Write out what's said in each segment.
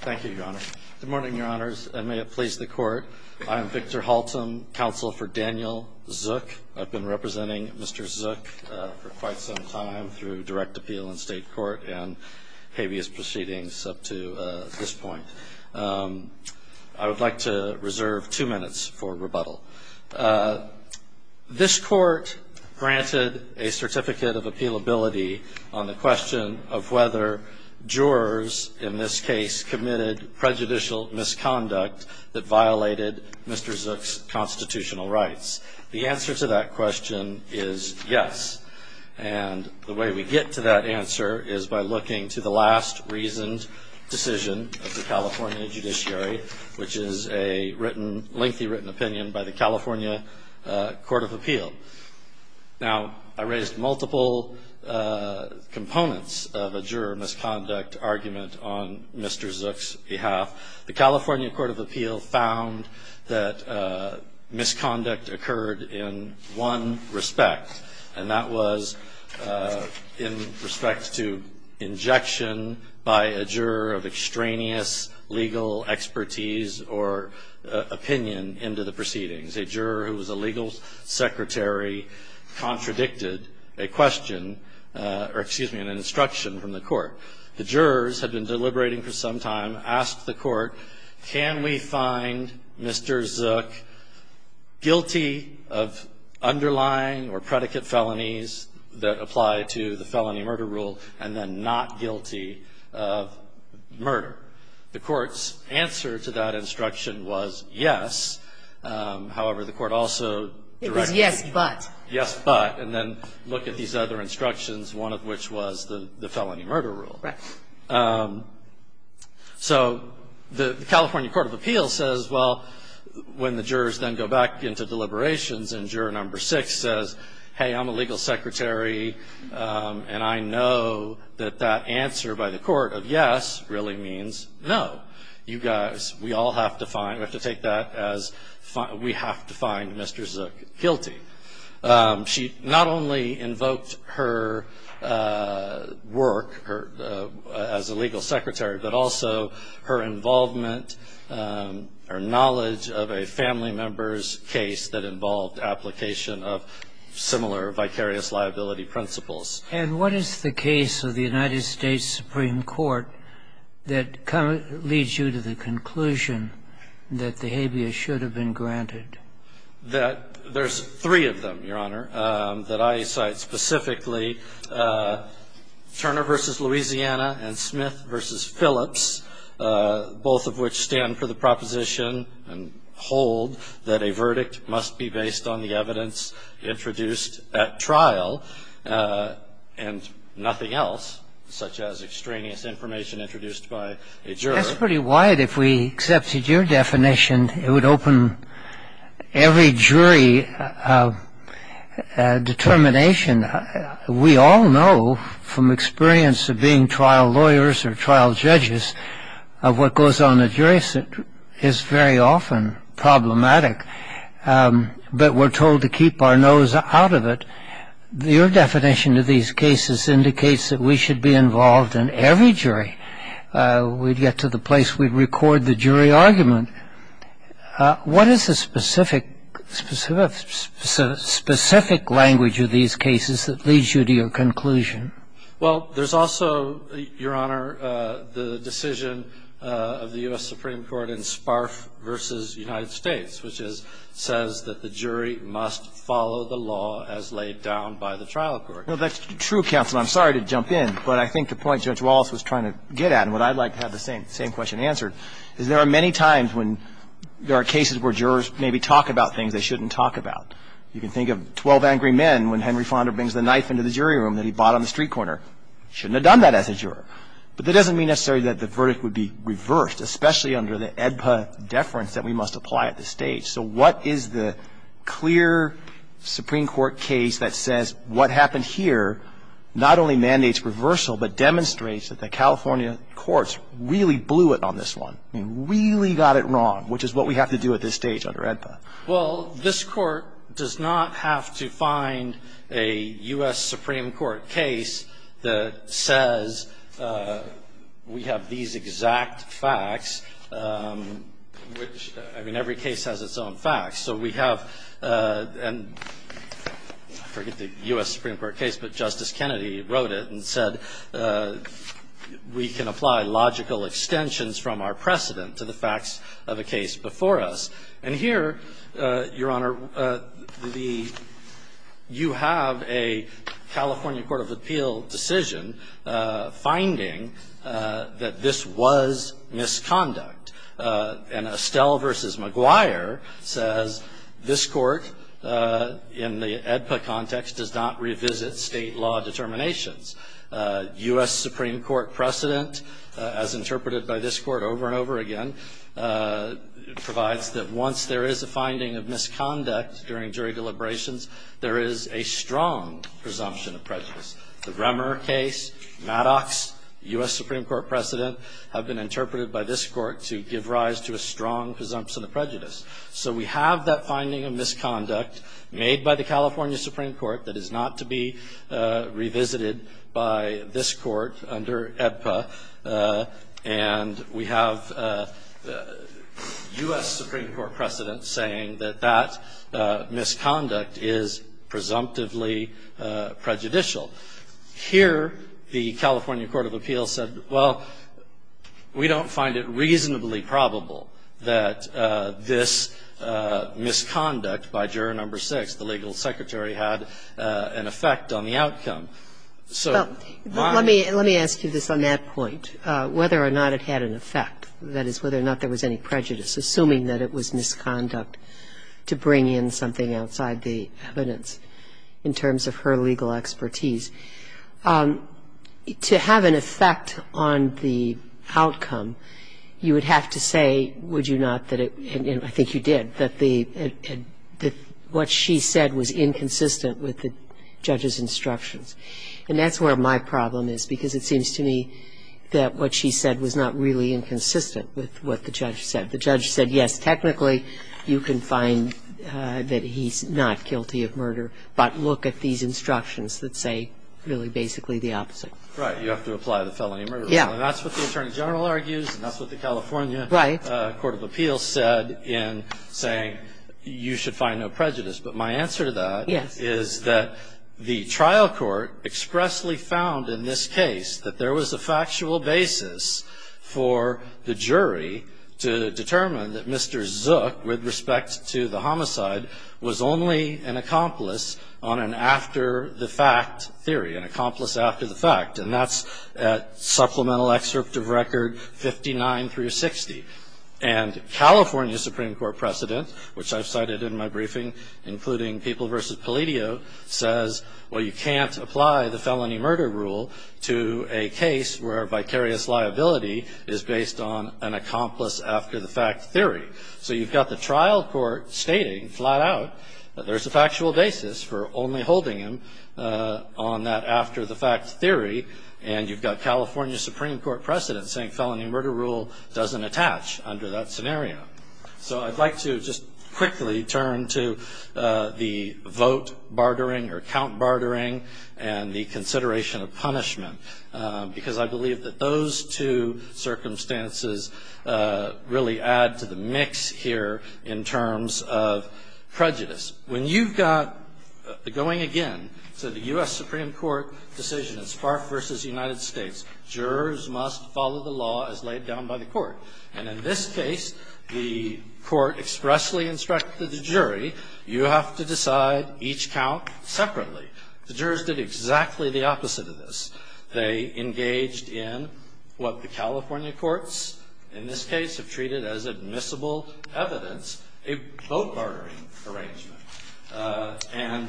Thank you, Your Honor. Good morning, Your Honors, and may it please the court. I am Victor Haltom, counsel for Daniel Zhuk. I've been representing Mr. Zhuk for quite some time through direct appeal in state court and habeas proceedings up to this point. I would like to reserve two minutes for rebuttal. This court granted a certificate of appealability on the question of whether jurors, in this case, committed prejudicial misconduct that violated Mr. Zhuk's constitutional rights. The answer to that question is yes. And the way we get to that answer is by looking to the last reasoned decision of the California judiciary, which is a lengthy written opinion by the California Court of Appeal. Now, I raised multiple components of a juror misconduct argument on Mr. Zhuk's behalf. The California Court of Appeal found that misconduct occurred in one respect, and that was in respect to injection by a juror of extraneous legal expertise or opinion into the proceedings. A juror who was a legal secretary contradicted a question or, excuse me, an instruction from the court. The jurors had been deliberating for some time, asked the court, can we find Mr. Zhuk guilty of underlying or predicate felonies that apply to the felony murder rule and then not guilty of murder? The court's answer to that instruction was yes. However, the court also directed you to yes, but. And then look at these other instructions, one of which was the felony murder rule. So the California Court of Appeal says, well, when the jurors then go back into deliberations and juror number six says, hey, I'm a legal secretary and I know that that answer by the court of yes really means no. You guys, we all have to find, we have to find Mr. Zhuk guilty. She not only invoked her work as a legal secretary, but also her involvement, her knowledge of a family member's case that involved application of similar vicarious liability principles. And what is the case of the United States Supreme Court that leads you to the conclusion that the habeas should have been granted? That there's three of them, Your Honor, that I cite specifically, Turner versus Louisiana and Smith versus Phillips, both of which stand for the proposition and hold that a verdict must be based on the evidence introduced at trial and nothing else, such as extraneous information introduced by a juror. That's pretty wide. If we accepted your definition, it would open every jury determination. We all know from experience of being trial lawyers or trial judges of what goes on in a jury is very often problematic. But we're told to keep our nose out of it. Your definition of these cases indicates that we should be involved in every jury. We'd get to the place. We'd record the jury argument. What is the specific language of these cases that leads you to your conclusion? Well, there's also, Your Honor, the decision of the US Supreme Court in Sparf versus United States, which says that the jury must follow the law as laid down by the trial court. Well, that's true, counsel. I'm sorry to jump in, but I think the point Judge Wallace was trying to get at, and what I'd like to have the same question answered, is there are many times when there are cases where jurors maybe talk about things they shouldn't talk about. You can think of 12 angry men when Henry Fonda brings the knife into the jury room that he bought on the street corner. Shouldn't have done that as a juror. But that doesn't mean necessarily that the verdict would be reversed, especially under the AEDPA deference that we must apply at this stage. So what is the clear Supreme Court case that says what happened here not only mandates reversal, but demonstrates that the California courts really blew it on this one, really got it wrong, which is what we have to do at this stage under AEDPA? Well, this court does not have to find a US Supreme Court case that says we have these exact facts, which, I mean, every case has its own facts. So we have, and I forget the US Supreme Court case, but Justice Kennedy wrote it and said, we can apply logical extensions from our precedent to the facts of a case before us. And here, Your Honor, you have a California Court of Appeal decision finding that this was misconduct. And Estelle v. McGuire says this court in the AEDPA context does not revisit state law determinations. US Supreme Court precedent, as interpreted by this court over and over again, provides that once there is a finding of misconduct during jury deliberations, there is a strong presumption of prejudice. The Remmer case, Maddox, US Supreme Court precedent, have been interpreted by this court to give rise to a strong presumption of prejudice. So we have that finding of misconduct made by the California Supreme Court that is not to be revisited by this court under AEDPA. And we have US Supreme Court precedent saying that that misconduct is presumptively prejudicial. Here, the California Court of Appeal said, well, we don't find it reasonably probable that this misconduct by juror number six, the legal secretary, had an effect on the outcome. So my question is whether or not it had an effect. That is, whether or not there was any prejudice, assuming that it was misconduct, to bring in something outside the evidence in terms of her legal expertise. To have an effect on the outcome, you would have to say, would you not, and I think you did, that what she said was inconsistent with the judge's instructions. And that's where my problem is, because it seems to me that what she said was not really inconsistent with what the judge said. The judge said, yes, technically, you can find that he's not guilty of murder, but look at these instructions that say, really, basically, the opposite. Right, you have to apply the felony murder rule. That's what the attorney general argues, and that's what the California Court of Appeals said in saying, you should find no prejudice. But my answer to that is that the trial court expressly found in this case that there was a factual basis for the jury to determine that Mr. Zook, with respect to the homicide, was only an accomplice on an after-the-fact theory, an accomplice after the fact. And that's at supplemental excerpt of record 59 through 60. And California Supreme Court precedent, which I've cited in my briefing, including People v. Palladio, says, well, you can't apply the felony murder rule to a case where vicarious liability is based on an accomplice after-the-fact theory. So you've got the trial court stating, flat out, that there's a factual basis for only holding him on that after-the-fact theory. And you've got California Supreme Court precedent saying felony murder rule doesn't attach under that scenario. So I'd like to just quickly turn to the vote bartering, or count bartering, and the consideration of punishment. Because I believe that those two circumstances really add to the mix here in terms of prejudice. When you've got going again to the US Supreme Court decision in Spark v. United States, jurors must follow the law as laid down by the court. And in this case, the court expressly instructed the jury, you have to decide each count separately. The jurors did exactly the opposite of this. They engaged in what the California courts, in this case, have treated as admissible evidence, a vote bartering arrangement. And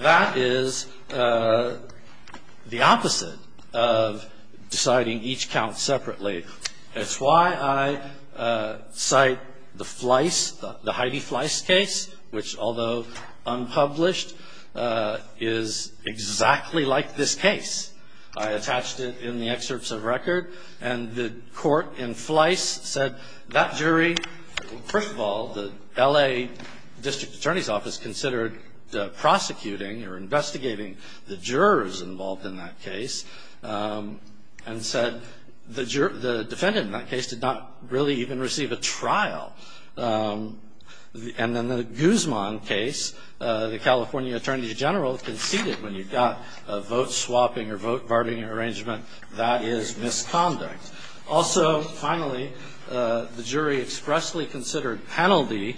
that is the opposite of deciding each count separately. That's why I cite the Fliess, the Heidi Fliess case, which, although unpublished, is exactly like this case. I attached it in the excerpts of record. And the court in Fliess said, that jury, first of all, the L.A. District Attorney's Office considered prosecuting, or investigating, the jurors involved in that case, and said the defendant in that case did not really even receive a trial. And then the Guzman case, the California Attorney General conceded when you've got a vote swapping or vote bartering arrangement, that is misconduct. Also, finally, the jury expressly considered penalty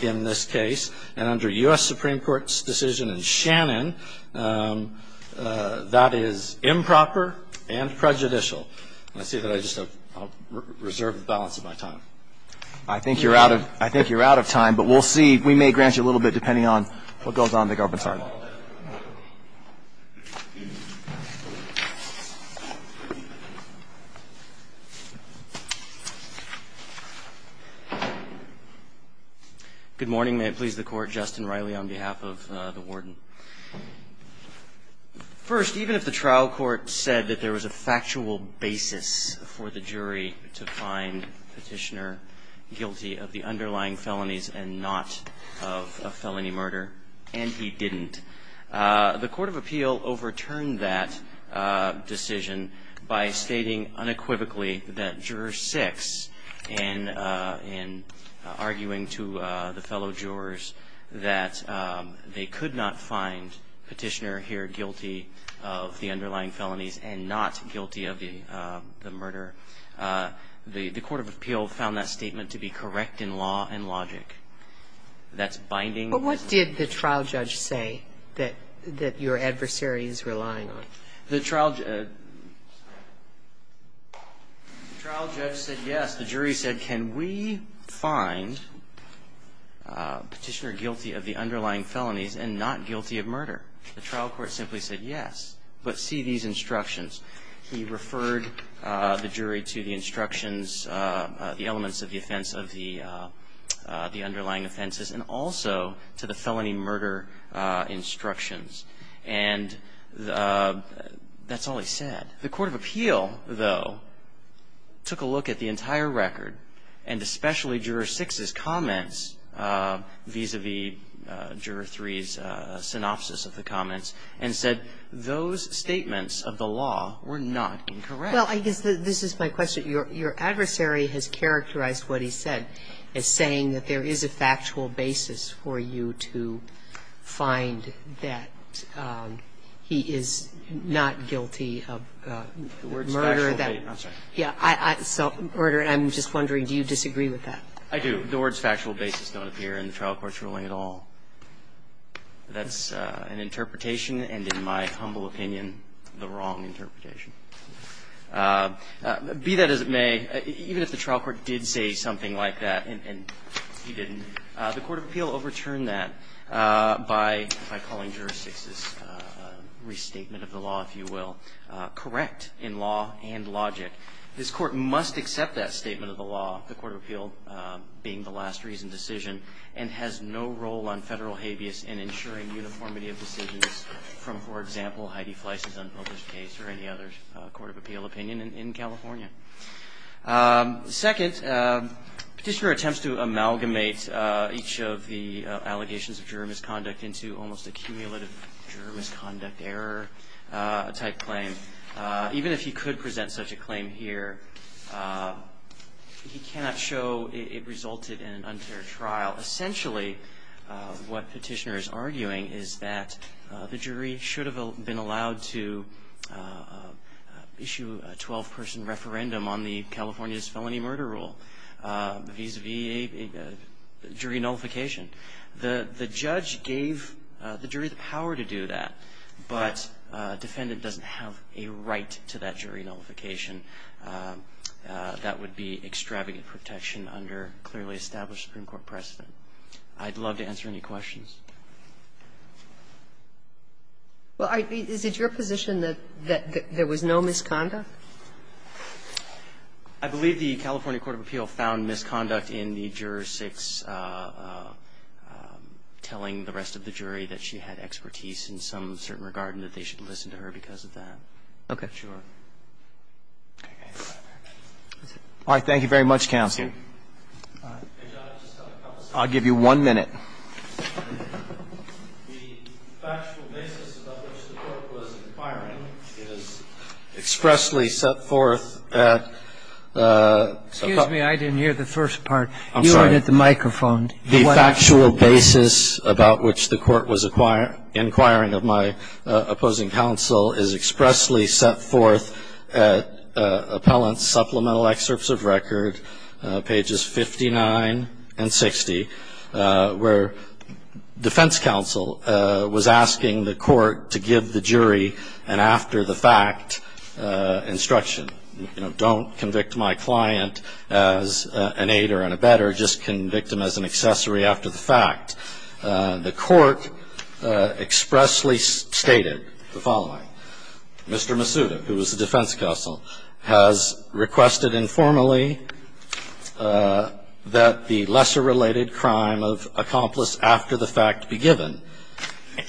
in this case. And under U.S. Supreme Court's decision in Shannon, that is improper and prejudicial. I see that I just have reserved the balance of my time. I think you're out of time. But we'll see. We may grant you a little bit, depending on what goes on in the government's heart. Thank you. Good morning. May it please the court, Justin Riley on behalf of the warden. First, even if the trial court said that there was a factual basis for the jury to find Petitioner guilty of the underlying felonies and not of a felony murder, and he didn't, the court of appeal overturned that decision by stating unequivocally that juror six in arguing to the fellow jurors that they could not find Petitioner here guilty of the underlying felonies and not guilty of the murder. The court of appeal found that statement to be correct in law and logic. That's binding. But what did the trial judge say that your adversary is relying on? The trial judge said yes. The jury said, can we find Petitioner guilty of the underlying felonies and not guilty of murder? The trial court simply said yes. But see these instructions. He referred the jury to the instructions, the elements of the offense of the underlying offenses, and also to the felony murder instructions. And that's all he said. The court of appeal, though, took a look at the entire record, and especially juror six's comments vis-a-vis juror three's synopsis of the comments, and said those statements of the law were not incorrect. Well, I guess this is my question. Your adversary has characterized what he said as saying that there is a factual basis for you to find that he is not guilty of murder. I'm sorry. Yeah, self-murder. I'm just wondering, do you disagree with that? I do. The words factual basis don't appear in the trial court's ruling at all. That's an interpretation, and in my humble opinion, the wrong interpretation. Be that as it may, even if the trial court did say something like that, and he didn't, the court of appeal overturned that by calling juror six's restatement of the law, if you will, correct in law and logic. This court must accept that statement of the law, the court of appeal being the last reasoned decision, and has no role on federal habeas in ensuring uniformity of decisions from, for example, Heidi Fleiss's unnoticed case or any other court of appeal opinion in California. Second, Petitioner attempts to amalgamate each of the allegations of juror misconduct into almost a cumulative juror misconduct error type claim. Even if he could present such a claim here, he cannot show it resulted in an unfair trial. Essentially, what Petitioner is arguing is that the jury should have been allowed to issue a 12-person referendum on the California's felony murder rule vis-a-vis a jury nullification. The judge gave the jury the power to do that, but a defendant doesn't have a right to that jury nullification. That would be extravagant protection under clearly established Supreme Court precedent. I'd love to answer any questions. Well, is it your position that there was no misconduct? I believe the California court of appeal found misconduct in the juror 6, telling the rest of the jury that she had expertise in some certain regard and that they should listen to her because of that. Okay. All right. Thank you very much, Counsel. I'll give you one minute. The factual basis about which the Court was inquiring is expressly set forth at the appellant's supplemental excerpts of record, pages 59 and 60, where it says, where defense counsel was asking the court to give the jury an after-the-fact instruction. You know, don't convict my client as an aider and abetter. Just convict him as an accessory after the fact. The court expressly stated the following. Mr. Masuda, who was the defense counsel, has requested informally that the accomplice after the fact be given.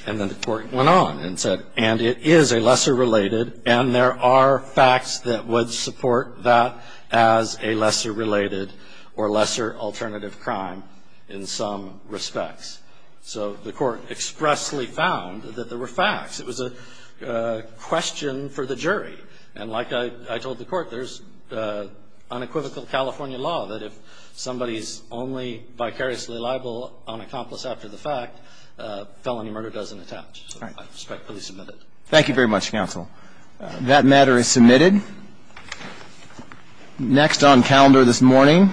And then the court went on and said, and it is a lesser-related, and there are facts that would support that as a lesser-related or lesser-alternative crime in some respects. So the court expressly found that there were facts. It was a question for the jury. And like I told the court, there's unequivocal California law that if somebody's only vicariously liable on accomplice after the fact, felony murder doesn't attach. So I respectfully submit it. Thank you very much, counsel. That matter is submitted. Next on calendar this morning.